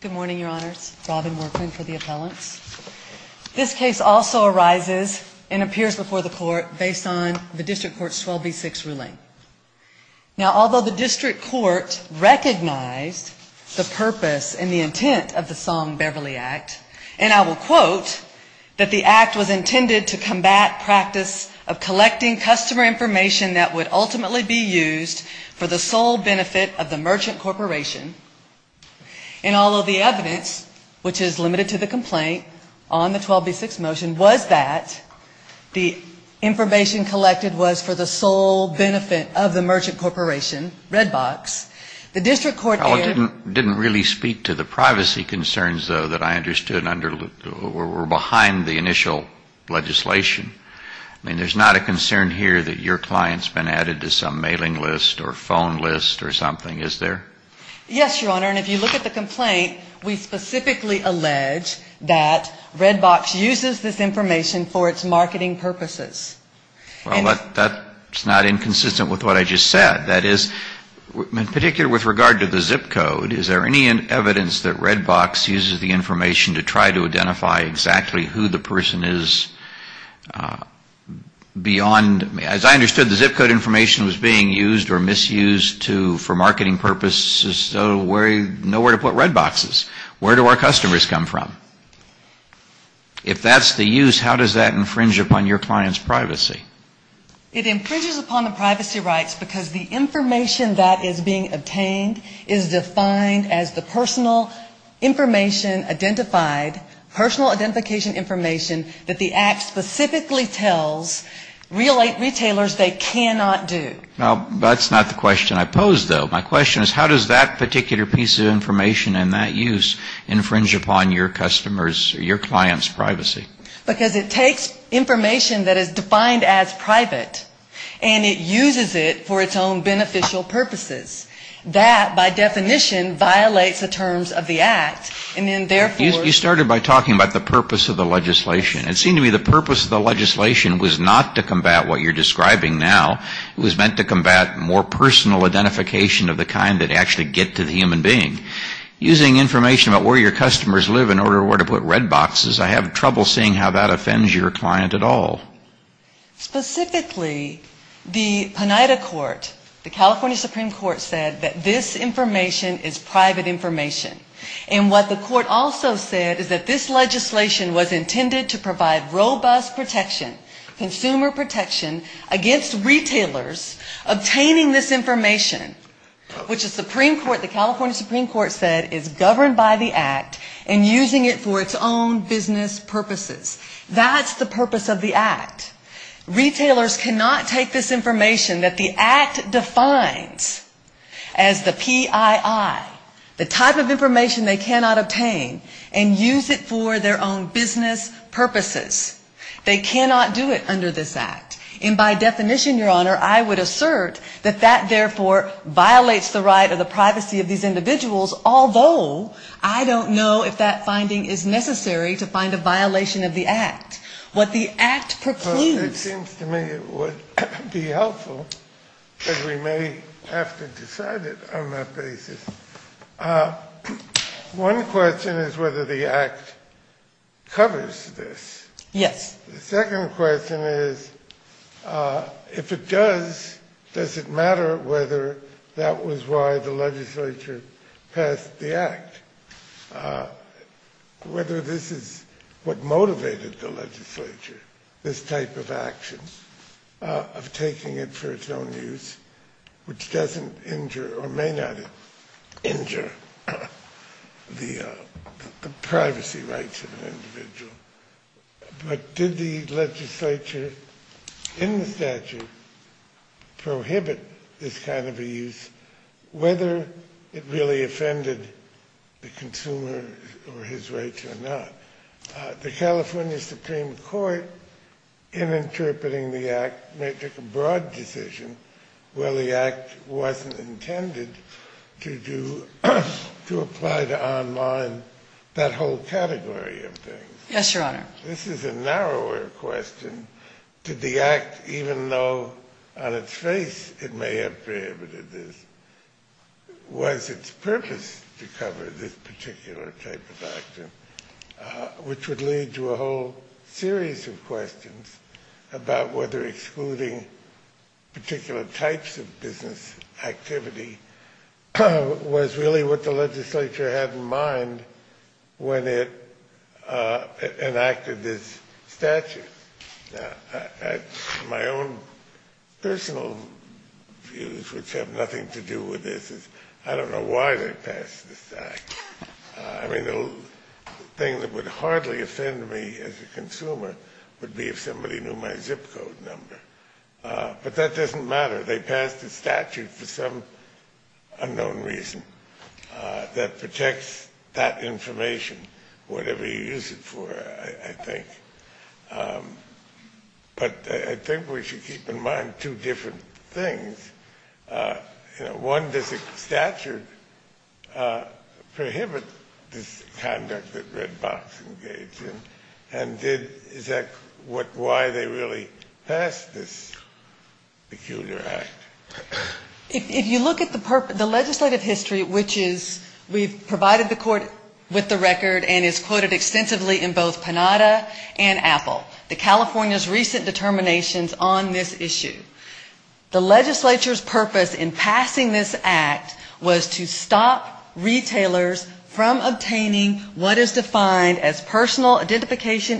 Good morning, your honors. Robin Workman for the appellants. This case also arises and appears before the court based on the district court's 12B6 ruling. Now, although the district court recognized the purpose and the intent of the Song-Beverly Act. And I will quote, that the act was intended to combat practice of collecting customer information that would be used for the sole benefit of the merchant corporation, Red Box, the district court didn't really speak to the privacy concerns, though, that I understood were behind the initial legislation. I mean, there's not a concern here that your client's been added to some mailing list or phone list or something, is there? Yes, your honor. And if you look at the complaint, it's not a complaint. It's not a complaint. We specifically allege that Red Box uses this information for its marketing purposes. Well, that's not inconsistent with what I just said. That is, in particular with regard to the zip code, is there any evidence that Red Box uses the information to try to identify exactly who the person is beyond, as I understood, the zip code information was being used or was? Where do our customers come from? If that's the use, how does that infringe upon your client's privacy? It infringes upon the privacy rights, because the information that is being obtained is defined as the personal information identified, personal identification information that the act specifically tells retailers they cannot do. Well, that's not the question I posed, though. My question is, how does that particular piece of information and that use infringe upon your customer's or your client's privacy? Because it takes information that is defined as private, and it uses it for its own beneficial purposes. That, by definition, violates the terms of the act, and then therefore you You started by talking about the purpose of the legislation. It seemed to me the purpose of the legislation was not to combat what you're describing now. It was meant to combat more personal identification of the kind that actually get to the human being. Using information about where your customers live in order to put red boxes, I have trouble seeing how that offends your client at all. Specifically, the Pineda court, the California Supreme Court said that this information is private information. And what the court also said is that this legislation was intended to provide robust protection, consumer protection against retailers obtaining this information, which the Supreme Court, the California Supreme Court said is governed by the act and using it for its own business purposes. That's the purpose of the act. Retailers cannot take this information that the act defines as the PII, the type of information they cannot obtain, and use it for their own business purposes. They cannot do it under this act. And by definition, Your Honor, I would assert that that, therefore, violates the right or the privacy of these individuals, although I don't know if that finding is necessary to find a violation of the act. What the act procludes It seems to me it would be helpful that we may have to decide it on that basis. One question is whether the act covers this. Yes. The second question is, if it does, does it matter whether that was why the legislature passed the act, whether this is what motivated the legislature, this type of action of taking it for its own use, which doesn't injure or may not injure the privacy rights of an individual? But did the legislature in the statute prohibit this kind of a use, whether it really offended the consumer or his rights or not? The California Supreme Court, in interpreting the act, made a broad decision where the act wasn't intended to do, to apply to online that whole category of things. Yes, Your Honor. This is a narrower question. Did the act, even though on its face it may have prohibited this, was its purpose to cover this particular type of action, which would lead to a whole series of questions about whether excluding particular types of business activity was really what the legislature had in mind when it enacted this statute? My own personal views, which have nothing to do with this, is I don't know why they passed this act. I mean, the thing that would hardly offend me as a consumer would be if somebody knew my zip code number. But that doesn't matter. They passed a statute for some unknown reason that protects that information, whatever you use it for, I think. But I think we should keep in mind two different things. One, does the statute prohibit this particular act? If you look at the legislative history, which is, we've provided the court with the record and is quoted extensively in both Panada and Apple, the California's recent determinations on this issue. The legislature's purpose in passing this act was to stop retailers from obtaining what is defined as non-business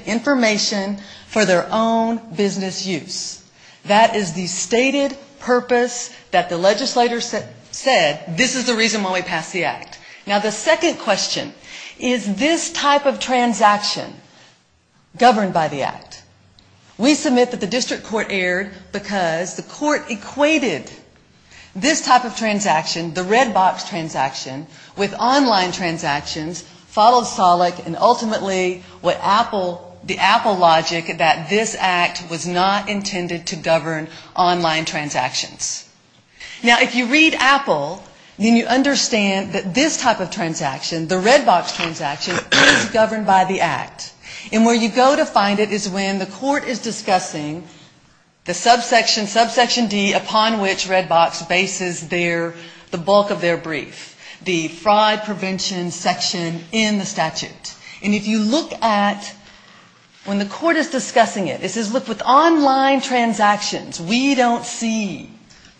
use. That is the stated purpose that the legislator said, this is the reason why we pass the act. Now, the second question, is this type of transaction governed by the act? We submit that the district court erred because the court equated this type of transaction, the red box transaction, with online transactions. Now, if you read Apple, then you understand that this type of transaction, the red box transaction, is governed by the act. And where you go to find it is when the court is discussing the subsection, subsection D, upon which red box bases the bulk of their brief, the fraud prevention section in the statute. And if you look at, when the court is discussing it, it says, look, with online transactions, we don't see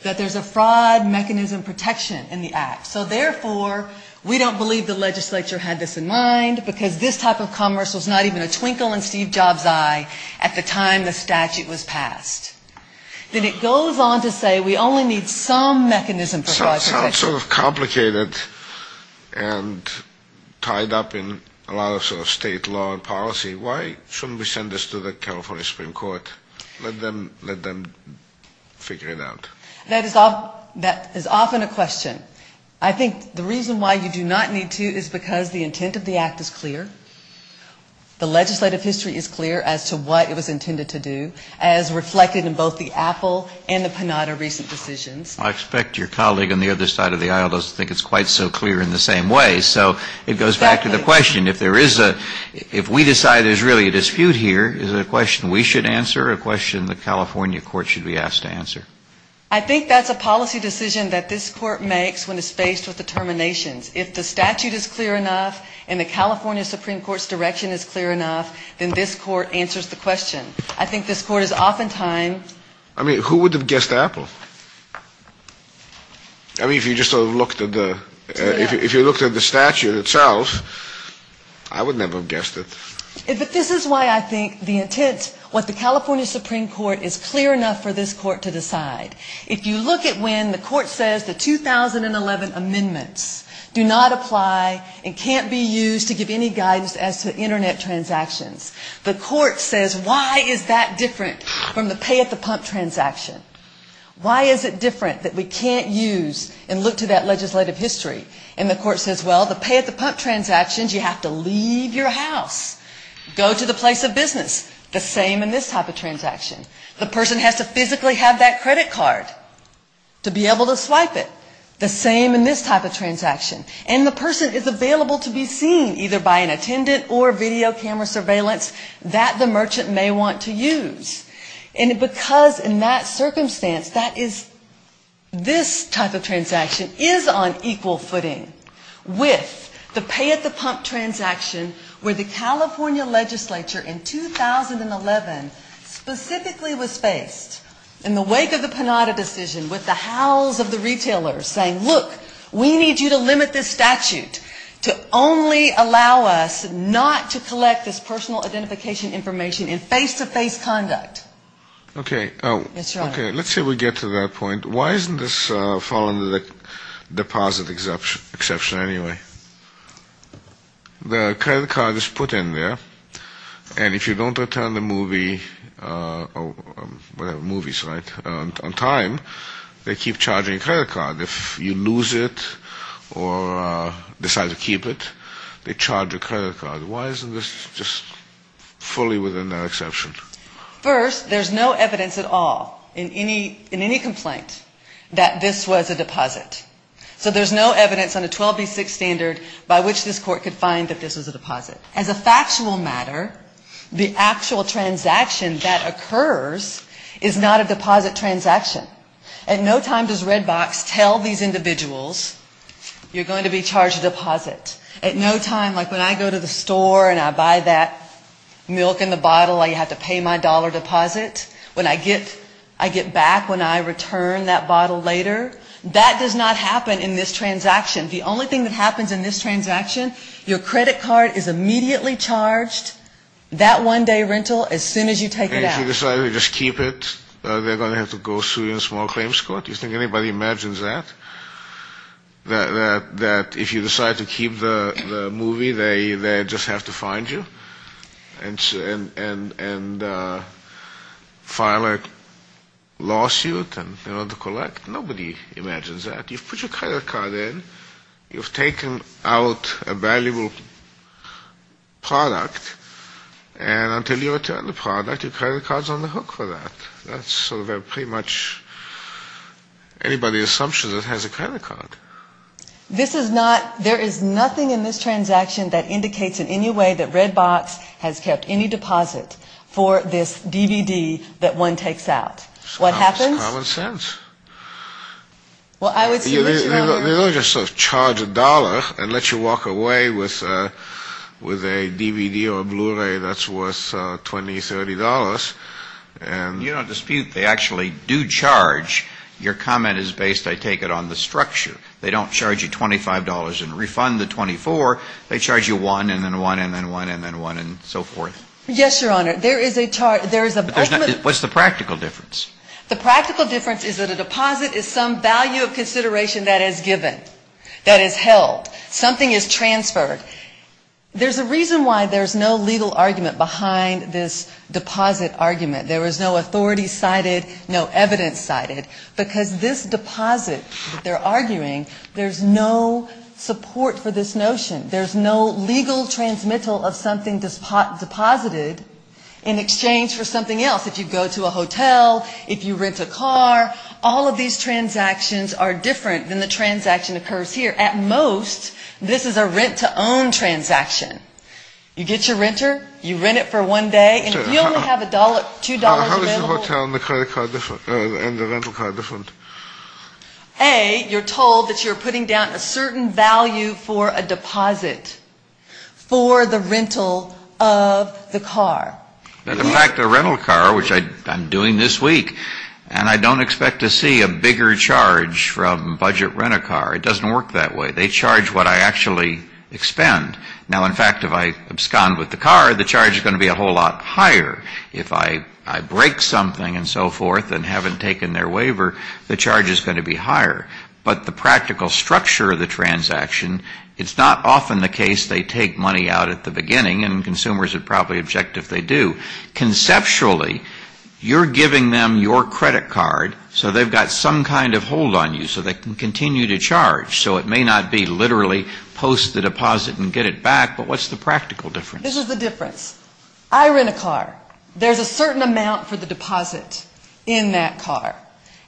that there's a fraud mechanism protection in the act. So therefore, we don't believe the legislature had this in mind, because this type of commerce was not even a twinkle in Steve Jobs' eye at the time the statute was passed. Then it goes on to say we only need some mechanism for fraud protection. It sounds sort of complicated and tied up in a lot of sort of state law and policy. Why shouldn't we send this to the California Supreme Court? Let them figure it out. That is often a question. I think the reason why you do not need to is because the intent of the act is clear. The legislative history is clear as to what it was intended to do, as reflected in both the Apple and the Panetta recent decisions. I expect your colleague on the other side of the aisle doesn't think it's quite so clear in the same way. So it goes back to the question. If there is a, if we decide there's really a dispute here, is it a question we should answer or a question the California court should be asked to answer? I think that's a policy decision that this court makes when it's faced with determinations. If the statute is clear enough to decide, I mean, if you just sort of looked at the, if you looked at the statute itself, I would never have guessed it. But this is why I think the intent, what the California Supreme Court is clear enough for this court to decide. If you look at when the court says the 2011 amendments do not apply and can't be used to give any guidance as to Internet transactions, the court says why is that different from the pay at the pump transaction? Why is it different? That we can't use and look to that legislative history. And the court says, well, the pay at the pump transactions, you have to leave your house, go to the place of business. The same in this type of transaction. The person has to physically have that credit card to be able to swipe it. The same in this type of transaction. And the person is available to be seen either by an attendant or video camera surveillance that the merchant may want to use. And because in that circumstance that is this type of transaction is on equal footing with the pay at the pump transaction where the California legislature in 2011 specifically was faced in the wake of the Panada decision with the howls of the retailers saying, look, we need you to limit this statute to only allow us not to collect this personal identification information in face-to-face contact. Let's say we get to that point. Why doesn't this fall under the deposit exception anyway? The credit card is put in there, and if you don't return the movie on time, they keep charging a credit card. If you lose it or decide to keep it, they charge a credit card. Why isn't this just fully within that exception? First, there's no evidence at all in any complaint that this was a deposit. So there's no evidence on the 12B6 standard by which this court could find that this was a deposit. As a factual matter, the actual transaction that occurs is not a deposit transaction. At no time does Red Box tell these individuals you're going to be charged a deposit. At no time, like when I go to the store and I buy that milk in the bottle, I have to pay my dollar deposit. When I get back, when I return that bottle later, that does not happen in this transaction. The only thing that happens in this transaction, your credit card is immediately charged. That one-day rental, as soon as you take it out. If you decide to just keep it, they're going to have to go sue you in a small claims court. Do you think anybody imagines that? That if you decide to keep the movie, they just have to find you and file a lawsuit in order to collect? Nobody imagines that. You've put your credit card in, you've taken out a valuable product, and until you return the product, your credit card's on the hook for that. That's sort of a pretty much anybody's assumption that has a credit card. This is not, there is nothing in this transaction that indicates in any way that Red Box has kept any deposit for this DVD that one takes out. What happens? It's common sense. They don't just sort of charge a dollar and let you walk away with a DVD or a Blu-ray that's worth $20, $30. You don't dispute, they actually do charge. Your comment is based, I take it, on the structure. They don't charge you $25 and refund the $24. They charge you one and then one and then one and then one and so forth. Yes, Your Honor. What's the practical difference? The practical difference is that a deposit is some value of consideration that is given, that is held. Something is transferred. There's a reason why there's no legal argument behind this deposit argument. There is no authority cited, no evidence cited, because this deposit that they're arguing, there's no support for this notion. There's no legal transmittal of something deposited in exchange for something else. If you go to a hotel, if you rent a car, all of these transactions are different than the transaction occurs here. At most, this is a rent-to-own transaction. You get your renter, you rent it for one day, and if you only have $2 available... How is the hotel and the rental car different? A, you're told that you're putting down a certain value for a deposit for the rental of the car. In fact, a rental car, which I'm doing this week, and I don't expect to see a bigger charge from budget rent-a-car. It doesn't work that way. They charge what I actually expend. Now, in fact, if I abscond with the car, the charge is going to be a whole lot higher. If I break something and so forth and haven't taken their waiver, the charge is going to be higher. But the practical structure of the transaction, it's not often the case they take money out at the beginning, and consumers would probably object if they do. Conceptually, you're giving them your credit card, so they've got some kind of hold on you, so they can continue to charge. So it may not be literally post the deposit and get it back, but what's the practical difference? This is the difference. I rent a car. There's a certain amount for the deposit in that car.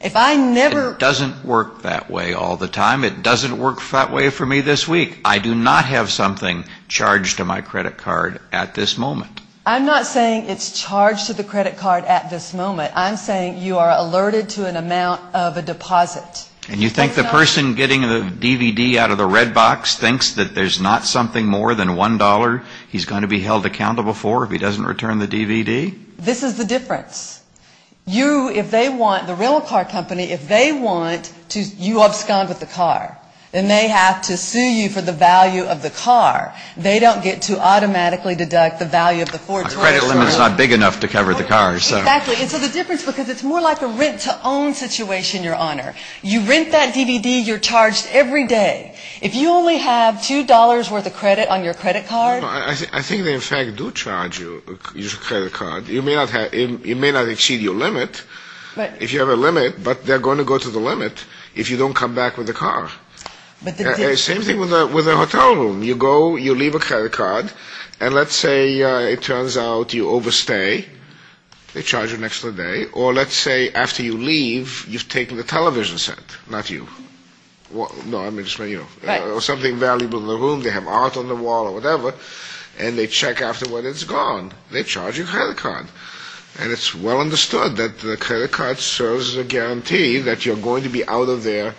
If I never ---- It doesn't work that way all the time. It doesn't work that way for me this week. I do not have something charged to my credit card at this moment. I'm not saying it's charged to the credit card at this moment. I'm saying you are alerted to an amount of a deposit. And you think the person getting the DVD out of the red box thinks that there's not something more than $1 he's going to be held accountable for if he doesn't return the DVD? This is the difference. You, if they want, the rental car company, if they want, you abscond with the car. Then they have to sue you for the value of the car. They don't get to automatically deduct the value of the Ford Toyota. The credit limit is not big enough to cover the car. Exactly. And so the difference, because it's more like a rent-to-own situation, Your Honor. You rent that DVD. You're charged every day. If you only have $2 worth of credit on your credit card ---- I think they in fact do charge you your credit card. You may not exceed your limit if you have a limit, but they're going to go to the limit if you don't come back with the car. Same thing with a hotel room. You go, you leave a credit card, and let's say it turns out you overstay. They charge you an extra day. Or let's say after you leave, you've taken the television set. Not you. Or something valuable in the room. They have art on the wall or whatever. And they check after when it's gone. They charge you a credit card. And it's well understood that the credit card serves as a guarantee that you're going to be out of there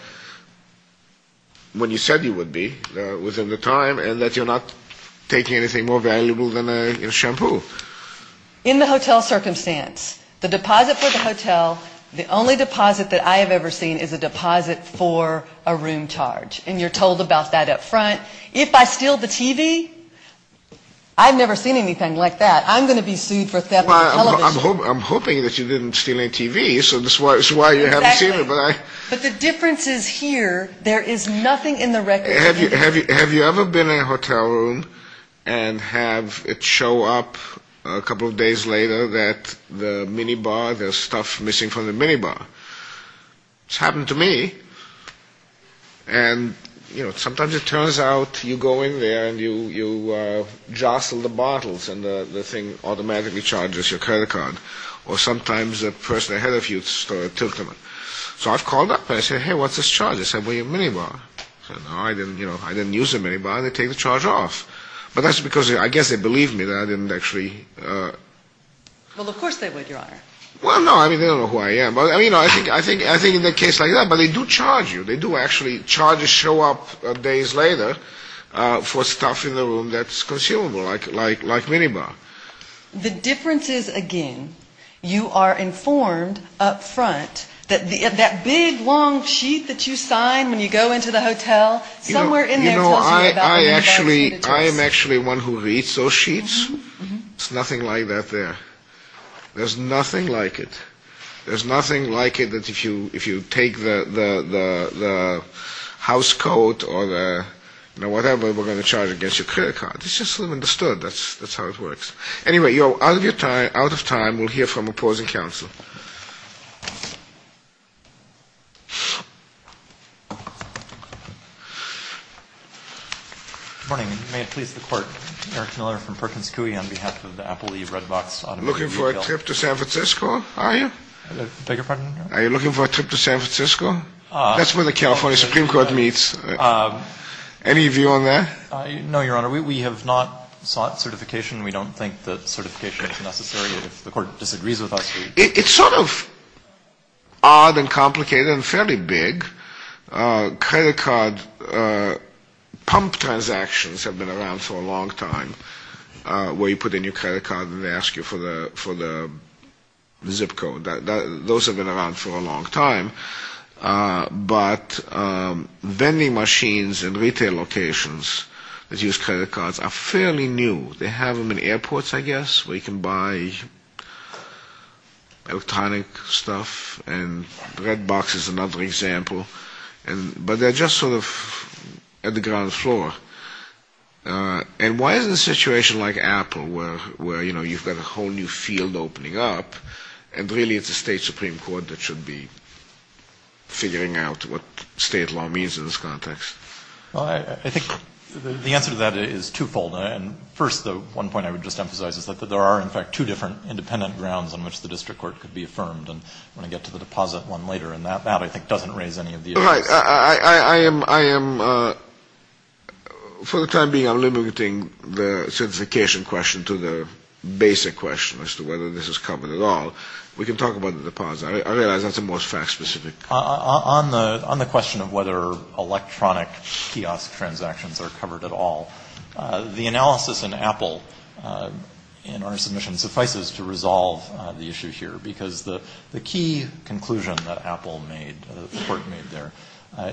when you said you would be within the time, and that you're not taking anything more valuable than a shampoo. In the hotel circumstance, the deposit for the hotel, the only deposit that I have ever seen is a deposit for a room. And you're told about that up front. If I steal the TV, I've never seen anything like that. I'm going to be sued for theft of a television. I'm hoping that you didn't steal any TV, so that's why you haven't seen it. But the difference is here, there is nothing in the record. Have you ever been in a hotel room and have it show up a couple of days later that the minibar, there's stuff missing from the minibar? It's happened to me. And sometimes it turns out you go in there and you jostle the bottles and the thing automatically charges your credit card. Or sometimes the person ahead of you tilts them. So I've called up and I said, hey, what's this charge? They said, well, your minibar. I said, no, I didn't use the minibar. They take the charge off. But that's because I guess they believe me that I didn't actually. Well, of course they would, Your Honor. Well, no, I mean, they don't know who I am. I mean, I think in a case like that, but they do charge you. They do actually. Charges show up days later for stuff in the room that's consumable, like minibar. The difference is, again, you are informed up front that that big, long sheet that you sign when you go into the hotel, somewhere in there tells you about the minibar. You know, I am actually one who reads those sheets. There's nothing like that there. There's nothing like it. There's nothing like it that if you take the house code or whatever, we're going to charge against your credit card. It's just misunderstood. That's how it works. Anyway, you're out of your time. Out of time. We'll hear from opposing counsel. Morning. May it please the court. Eric Miller from Perkins Coie on behalf of the Apple, the Redbox. Looking for a trip to San Francisco. Are you looking for a trip to San Francisco? That's where the California Supreme Court meets. Any of you on that? No, Your Honor, we have not sought certification. We don't think that certification is necessary. If the court disagrees with us. It's sort of odd and complicated and fairly big credit card. Pump transactions have been around for a long time where you put in your credit card and they ask you for the for the zip code. Those have been around for a long time. But vending machines and retail locations that use credit cards are fairly new. They have them in airports, I guess, where you can buy electronic stuff. And Redbox is another example. But they're just sort of at the ground floor. And why is it a situation like Apple where, you know, you've got a whole new field opening up and really it's a state Supreme Court that should be figuring out what state law means in this context? Well, I think the answer to that is twofold. And first, the one point I would just emphasize is that there are, in fact, two different independent grounds on which the district court could be affirmed. And when I get to the deposit one later in that, that I think doesn't raise any of the. For the time being, I'm limiting the certification question to the basic question as to whether this is covered at all. We can talk about the deposit. I realize that's a more fact specific. On the on the question of whether electronic kiosk transactions are covered at all. The analysis in Apple in our submission suffices to resolve the issue here, because the key conclusion that Apple made, the court made there,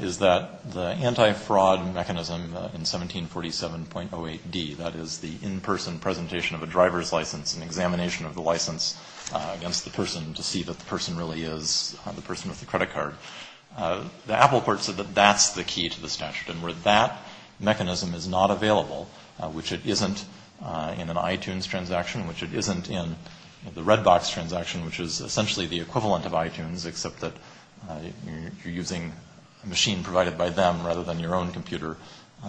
is that the anti-fraud mechanism in 1747.08d, that is the in-person presentation of a driver's license and examination of the license against the person to see that the person really is the person with the credit card. The Apple court said that that's the key to the statute and where that mechanism is not available, which it isn't in an iTunes transaction, which it isn't in the Redbox transaction, which is essentially the equivalent of iTunes, except that you're using a machine provided by them rather than your own computer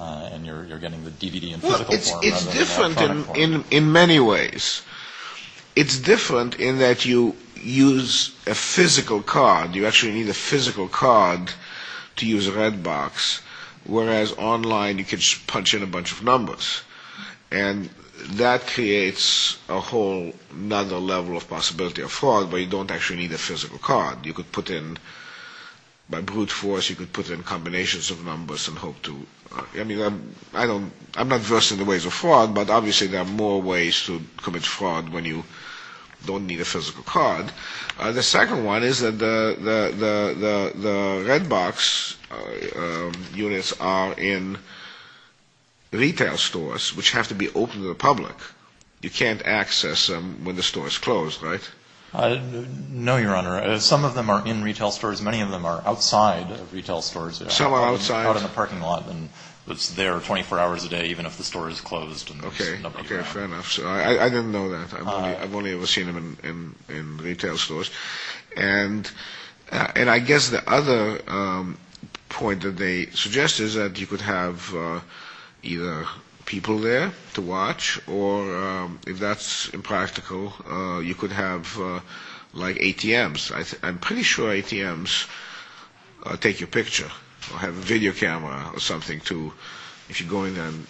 and you're getting the DVD in physical form. It's different in many ways. It's different in that you use a physical card. You actually need a physical card to use Redbox, whereas online you can just punch in a bunch of numbers. And that creates a whole nother level of possibility of fraud where you don't actually need a physical card. You could put in, by brute force, you could put in combinations of numbers and hope to, I mean, I don't, I'm not versed in the ways of fraud, but obviously there are more ways to commit fraud when you don't need a physical card. The second one is that the Redbox units are in retail stores, which have to be open to the public. You can't access them when the store is closed, right? No, Your Honor. Some of them are in retail stores. Many of them are outside of retail stores. Some are outside? Some are out in the parking lot and it's there 24 hours a day, even if the store is closed. Okay, fair enough. I didn't know that. I've only ever seen them in retail stores. And I guess the other point that they suggest is that you could have either people there to watch or, if that's impractical, you could have like ATMs. I'm pretty sure ATMs take your picture or have a video camera. If you go in there and,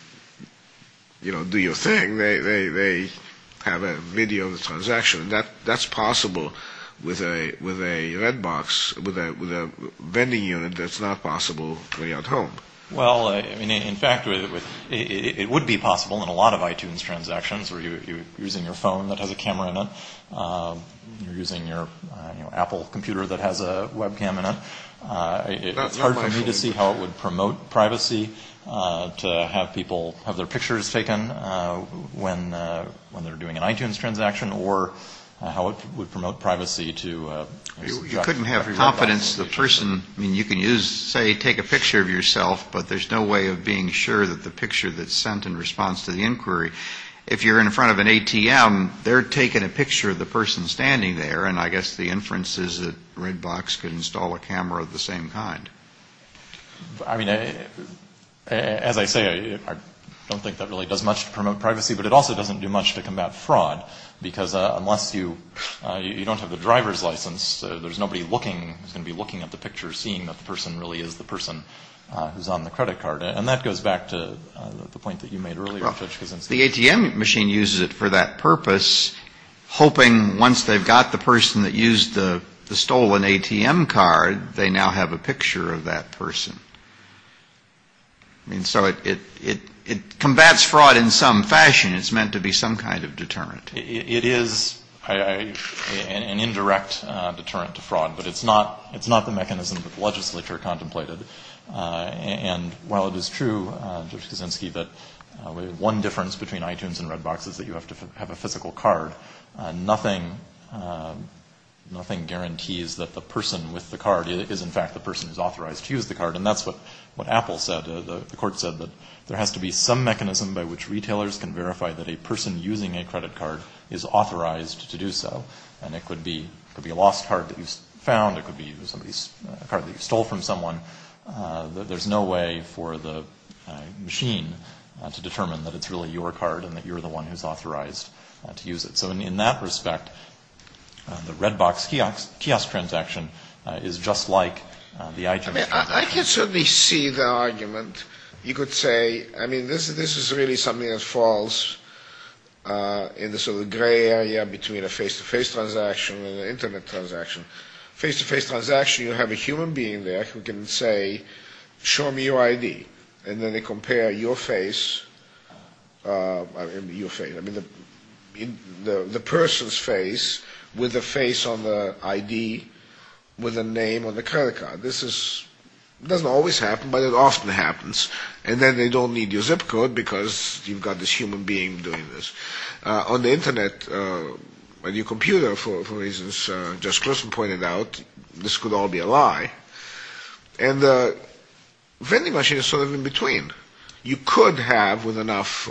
you know, do your thing, they have a video of the transaction. That's possible with a Redbox, with a vending unit that's not possible to do at home. Well, in fact, it would be possible in a lot of iTunes transactions where you're using your phone that has a camera in it. You're using your Apple computer that has a webcam in it. It's hard for me to see how it would promote privacy to have people have their pictures taken when they're doing an iTunes transaction or how it would promote privacy to... You couldn't have confidence the person, I mean, you can use, say, take a picture of yourself, but there's no way of being sure that the picture that's sent in response to the inquiry. If you're in front of an ATM, they're taking a picture of the person standing there, and it's the same kind. I mean, as I say, I don't think that really does much to promote privacy, but it also doesn't do much to combat fraud, because unless you don't have the driver's license, there's nobody looking, who's going to be looking at the picture seeing that the person really is the person who's on the credit card. And that goes back to the point that you made earlier. The ATM machine uses it for that purpose, hoping once they've got the person that used the stolen ATM card, they now have a picture of that person. I mean, so it combats fraud in some fashion. It's meant to be some kind of deterrent. It is an indirect deterrent to fraud, but it's not the mechanism that the legislature contemplated. And while it is true, Judge Kuczynski, that one difference between iTunes and Redbox is that you have to have a physical card, nothing guarantees that the person with the card is in fact the person who's authorized to use the card. And that's what Apple said. The court said that there has to be some mechanism by which retailers can verify that a person using a credit card is authorized to do so. There's no way for the machine to determine that it's really your card and that you're the one who's authorized to use it. So in that respect, the Redbox kiosk transaction is just like the iTunes transaction. I mean, I can certainly see the argument. You could say, I mean, this is really something that falls in the sort of gray area between a face-to-face transaction and an Internet transaction. Face-to-face transaction, you have a human being there who can say, show me your ID, and then they compare your face, I mean, your face, I mean, the person's face with the face on the ID with the name on the credit card. This doesn't always happen, but it often happens. And then they don't need your zip code because you've got this human being doing this. On the Internet, your computer, for reasons just Chris pointed out, this could all be a lie. And the vending machine is sort of in between. You could have, with enough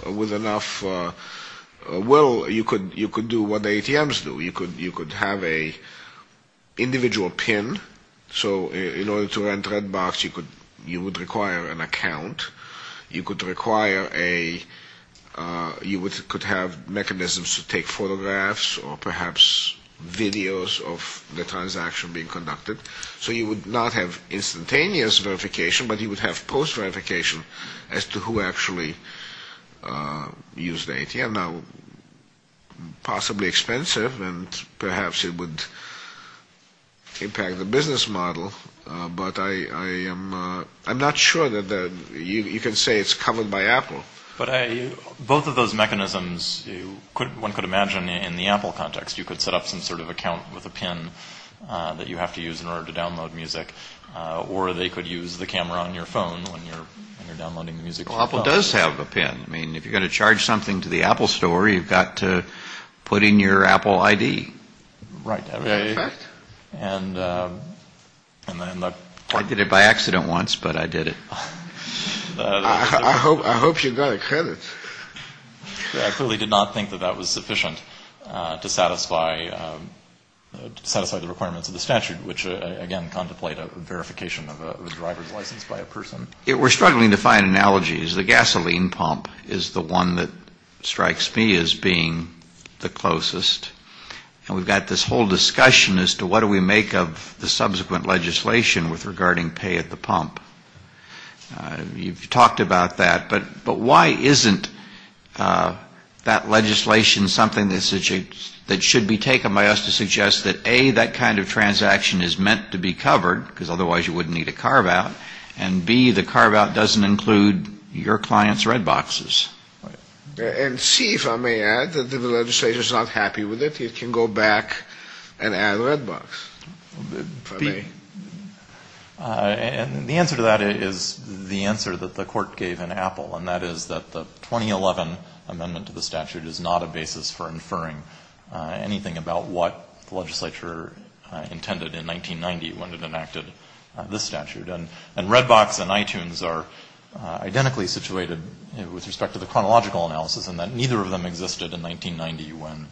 will, you could do what ATMs do. You could have an individual PIN. So in order to rent Redbox, you would require an account. You could require a, you could have mechanisms to take photographs or perhaps videos of the transaction being conducted. So you would not have instantaneous verification, but you would have post-verification as to who actually used the ATM. Now, possibly expensive, and perhaps it would impact the business model, but I'm not sure that you can say it's covered by Apple. But both of those mechanisms, one could imagine in the Apple context, you could set up some sort of account with a PIN that you have to use in order to download music, or they could use the camera on your phone when you're downloading music. Well, Apple does have a PIN. I mean, if you're going to charge something to the Apple store, you've got to put in your Apple ID. I did it by accident once, but I did it. I hope you got a credit. I clearly did not think that that was sufficient to satisfy the requirements of the statute, which, again, contemplate a verification of a driver's license by a person. We're struggling to find analogies. The gasoline pump is the one that strikes me as being the closest, and we've got this whole discussion as to what do we make of the subsequent legislation regarding pay at the pump. You've talked about that, but why isn't that legislation something that should be taken by us to suggest that, A, that kind of transaction is meant to be covered, because otherwise you wouldn't need a carve-out, and, B, the carve-out doesn't include your client's red boxes. And, C, if I may add, that if the legislature is not happy with it, it can go back and add a red box, if I may. And the answer to that is the answer that the court gave in Apple, and that is that the 2011 amendment to the statute is not a basis for inferring anything about what the legislature intended in 1990 when it enacted this statute. And red box and iTunes are identically situated with respect to the chronological analysis, and that neither of them existed in 1990 when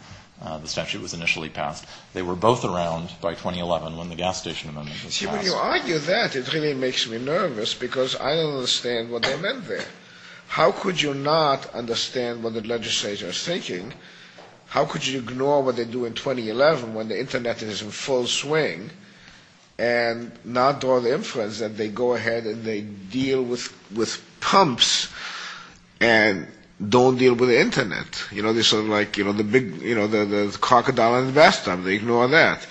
the statute was initially passed. They were both around by 2011 when the gas station amendment was passed. When you argue that, it really makes me nervous, because I don't understand what they meant there. How could you not understand what the legislature is thinking? How could you ignore what they do in 2011, when the Internet is in full swing, and not draw the inference that they go ahead and they deal with pumps and don't deal with the Internet? You know, they're sort of like, you know, the big, you know, the crocodile and the bathtub. They ignore that.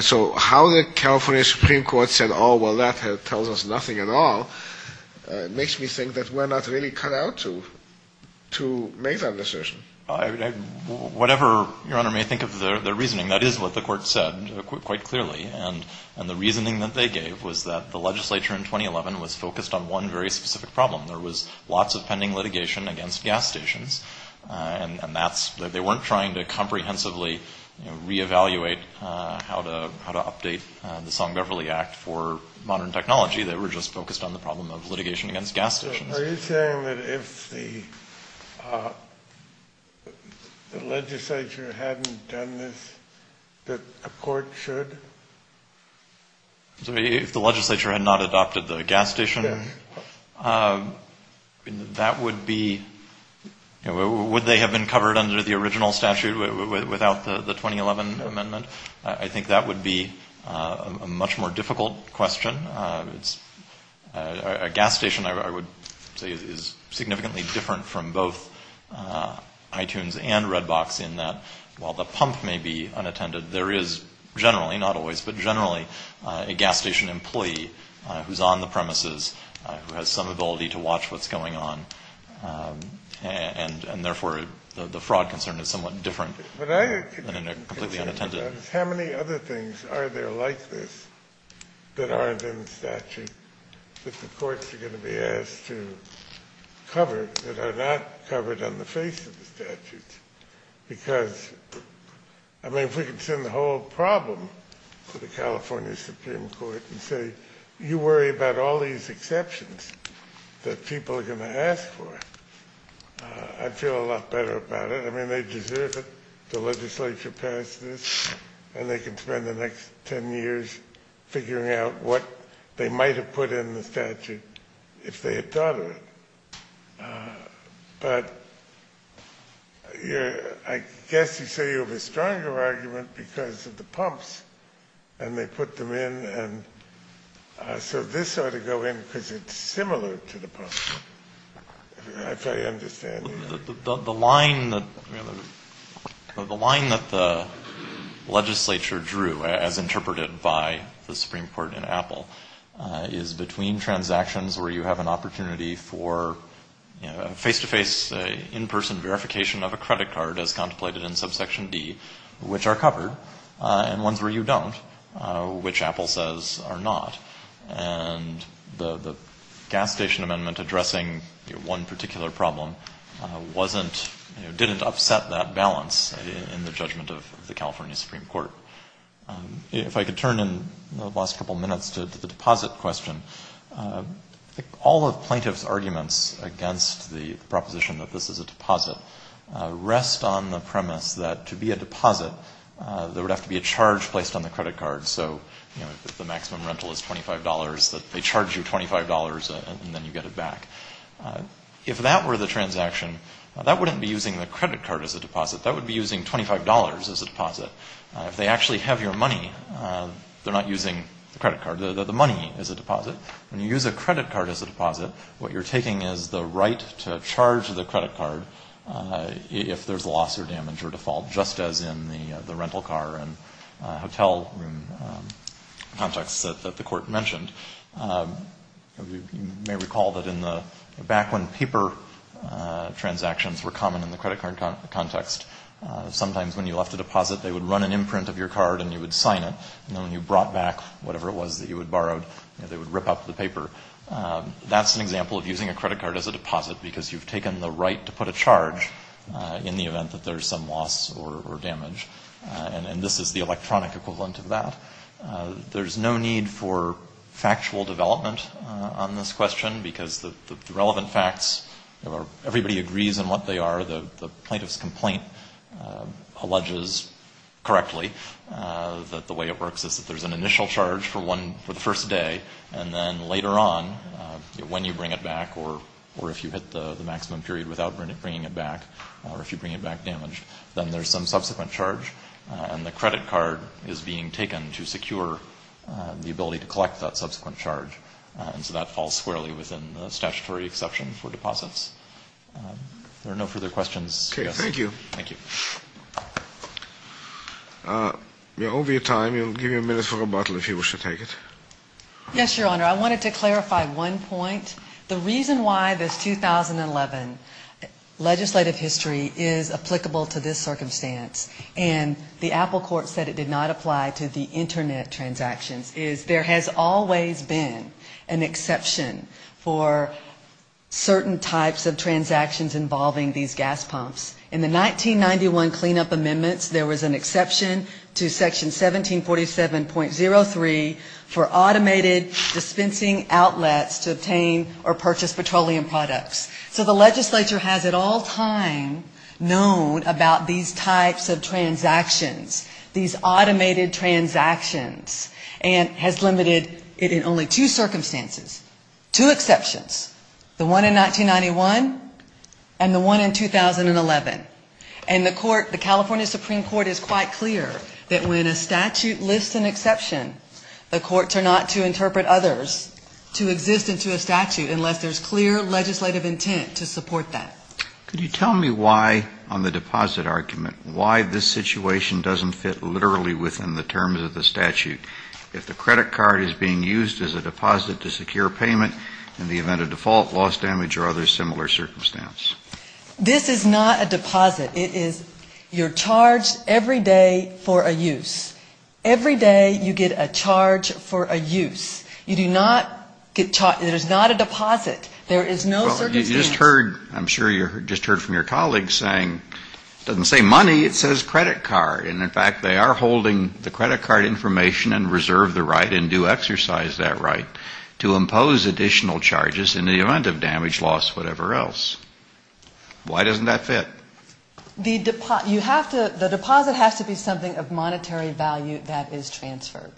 So how the California Supreme Court said, oh, well, that tells us nothing at all, whatever Your Honor may think of their reasoning, that is what the court said quite clearly. And the reasoning that they gave was that the legislature in 2011 was focused on one very specific problem. There was lots of pending litigation against gas stations, and they weren't trying to comprehensively reevaluate how to update the Song-Beverly Act for modern technology. They were just focused on the problem of litigation against gas stations. If the legislature hadn't done this, that a court should? If the legislature had not adopted the gas station, that would be, you know, would they have been covered under the original statute without the 2011 amendment? I think that would be a much more difficult question. A gas station, I would say, is significantly different from both iTunes and Redbox in that while the pump may be unattended, there is generally, not always, but generally a gas station employee who's on the premises, who has some ability to watch what's going on, and therefore the fraud concern is somewhat different than in a completely unattended. How many other things are there like this that aren't in the statute that the courts are going to be asked to cover that are not covered on the face of the statute? Because, I mean, if we could send the whole problem to the California Supreme Court and say, you worry about all these exceptions that people are going to ask for, I'd feel a lot better about it. I mean, they deserve it. The legislature passed this, and they can spend the next 10 years figuring out what they might have put in the statute if they had thought of it. But I guess you say you have a stronger argument because of the pumps, and they put them in, and so this ought to go in because it's similar to the pumps, if I understand you. The line that the legislature drew, as interpreted by the Supreme Court in Apple, is between transactions where you have an opportunity for face-to-face, in-person verification of a credit card, as contemplated in subsection D, which are covered, and ones where you don't, which Apple says are not. And the gas station amendment addressing one particular problem didn't upset that balance in the judgment of the California Supreme Court. If I could turn in the last couple of minutes to the deposit question. All of plaintiff's arguments against the proposition that this is a deposit rest on the premise that to be a deposit, there would have to be a charge placed on the credit card. So if the maximum rental is $25, that they charge you $25 and then you get it back. If that were the transaction, that wouldn't be using the credit card as a deposit. That would be using $25 as a deposit. If they actually have your money, they're not using the credit card. The money is a deposit. When you use a credit card as a deposit, what you're taking is the right to charge the credit card if there's loss or damage or default, just as in the rental car and hotel room context that the court mentioned. You may recall that back when paper transactions were common in the credit card context, sometimes when you left a deposit, they would run an imprint of your card and you would sign it. And then when you brought back whatever it was that you had borrowed, they would rip up the paper. That's an example of using a credit card as a deposit because you've taken the right to put a charge in the event that there's some loss or damage. And this is the electronic equivalent of that. There's no need for factual development on this question because the relevant facts, everybody agrees on what they are. The plaintiff's complaint alleges correctly that the way it works is that there's an initial charge for the first day and then later on, when you bring it back or if you hit the maximum period without bringing it back or if you bring it back damaged, then there's some subsequent charge. And the credit card is being taken to secure the ability to collect that subsequent charge. And so that falls squarely within the statutory exception for deposits. There are no further questions. Thank you. Yes, Your Honor, I wanted to clarify one point. The reason why this 2011 legislative history is applicable to this circumstance and the Apple court said it did not apply to the Internet transactions is there has always been an exception for certain types of transactions involving these gas pumps. In the 1991 cleanup amendments, there was an exception to section 1747.03 for automated dispensing outlets to obtain or purchase petroleum products. And the California Supreme Court has limited it in only two circumstances, two exceptions, the one in 1991 and the one in 2011. And the California Supreme Court is quite clear that when a statute lists an exception, the courts are not to interpret others to exist into a statute unless there's clear legislative intent to support that. Could you tell me why on the deposit argument, why this situation doesn't fit literally within the terms of the statute? If the credit card is being used as a deposit to secure payment in the event of default loss damage or other similar circumstance? This is not a deposit. It is you're charged every day for a use. Every day you get a charge for a use. You do not get charged, it is not a deposit. There is no circumstance. Well, you just heard, I'm sure you just heard from your colleagues saying, it doesn't say money, it says credit card. And in fact, they are holding the credit card information and reserve the right and do exercise that right to impose additional charges on the value that is transferred.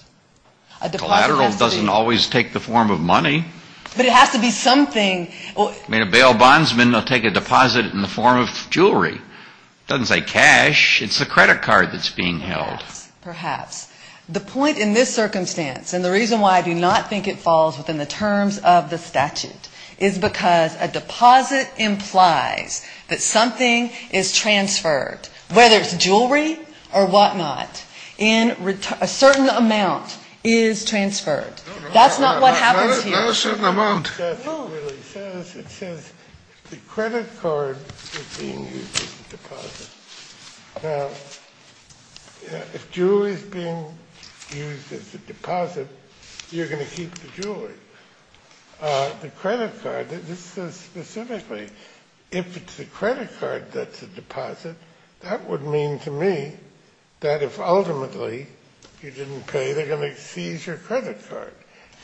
A deposit doesn't always take the form of money. But it has to be something. I mean, a bail bondsman will take a deposit in the form of jewelry. It doesn't say cash, it's a credit card that's being held. Perhaps, perhaps. The point in this circumstance, and the reason why I do not think it falls within the terms of the statute, is because a deposit implies that something is transferred, whether it's jewelry or whatnot, in a certain amount is transferred. That's not what happens here. It says the credit card is being used as a deposit. Now, if jewelry is being used as a deposit, you're going to keep the jewelry. The credit card, this says specifically, if it's a credit card that's a deposit, that would mean to me that if ultimately you didn't pay, they're going to seize your credit card.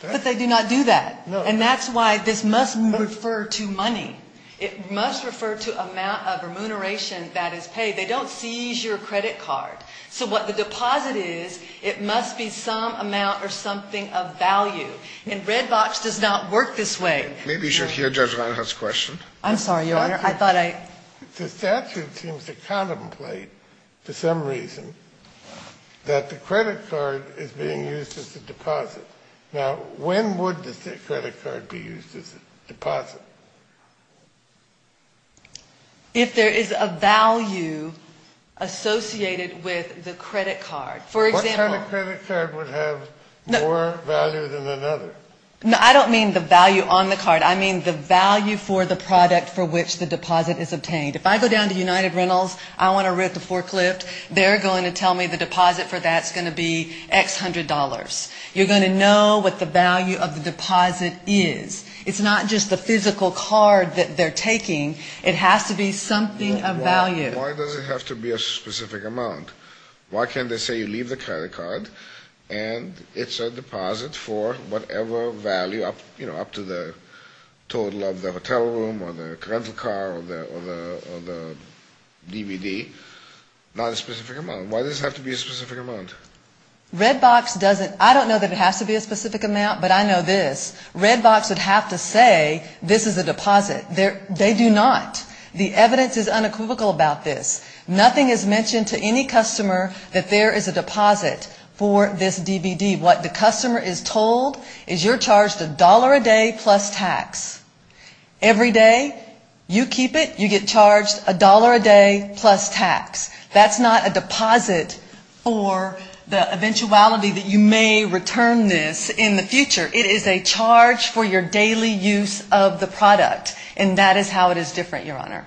But they do not do that. And that's why this must refer to money. It must refer to amount of remuneration that is paid. They don't seize your credit card. So what the deposit is, it must be some amount or something of value. And Red Box does not work this way. Maybe you should hear Judge Reinhart's question. I'm sorry, Your Honor. The statute seems to contemplate, for some reason, that the credit card is being used as a deposit. Now, when would the credit card be used as a deposit? If there is a value associated with the credit card. What kind of credit card would have more value than another? I don't mean the value on the card. I mean the value for the product for which the deposit is obtained. If I go down to United Rentals, I want to rent the forklift, they're going to tell me the deposit for that is going to be X hundred dollars. You're going to know what the value of the deposit is. It's not just the physical card that they're taking. It has to be something of value. Why does it have to be a specific amount? Why can't they say you leave the credit card and it's a deposit for whatever value up to the total of the hotel room or the rental car or the DVD? Not a specific amount. Why does it have to be a specific amount? I don't know that it has to be a specific amount, but I know this, Redbox would have to say this is a deposit. They do not. The evidence is unequivocal about this. Nothing is mentioned to any customer that there is a deposit for this DVD. What the customer is told is you're charged a dollar a day plus tax. Every day you keep it, you get charged a dollar a day plus tax. That's not a deposit for the eventuality that you may return this in the future. It is a charge for your daily use of the product. That is how it is different, Your Honor.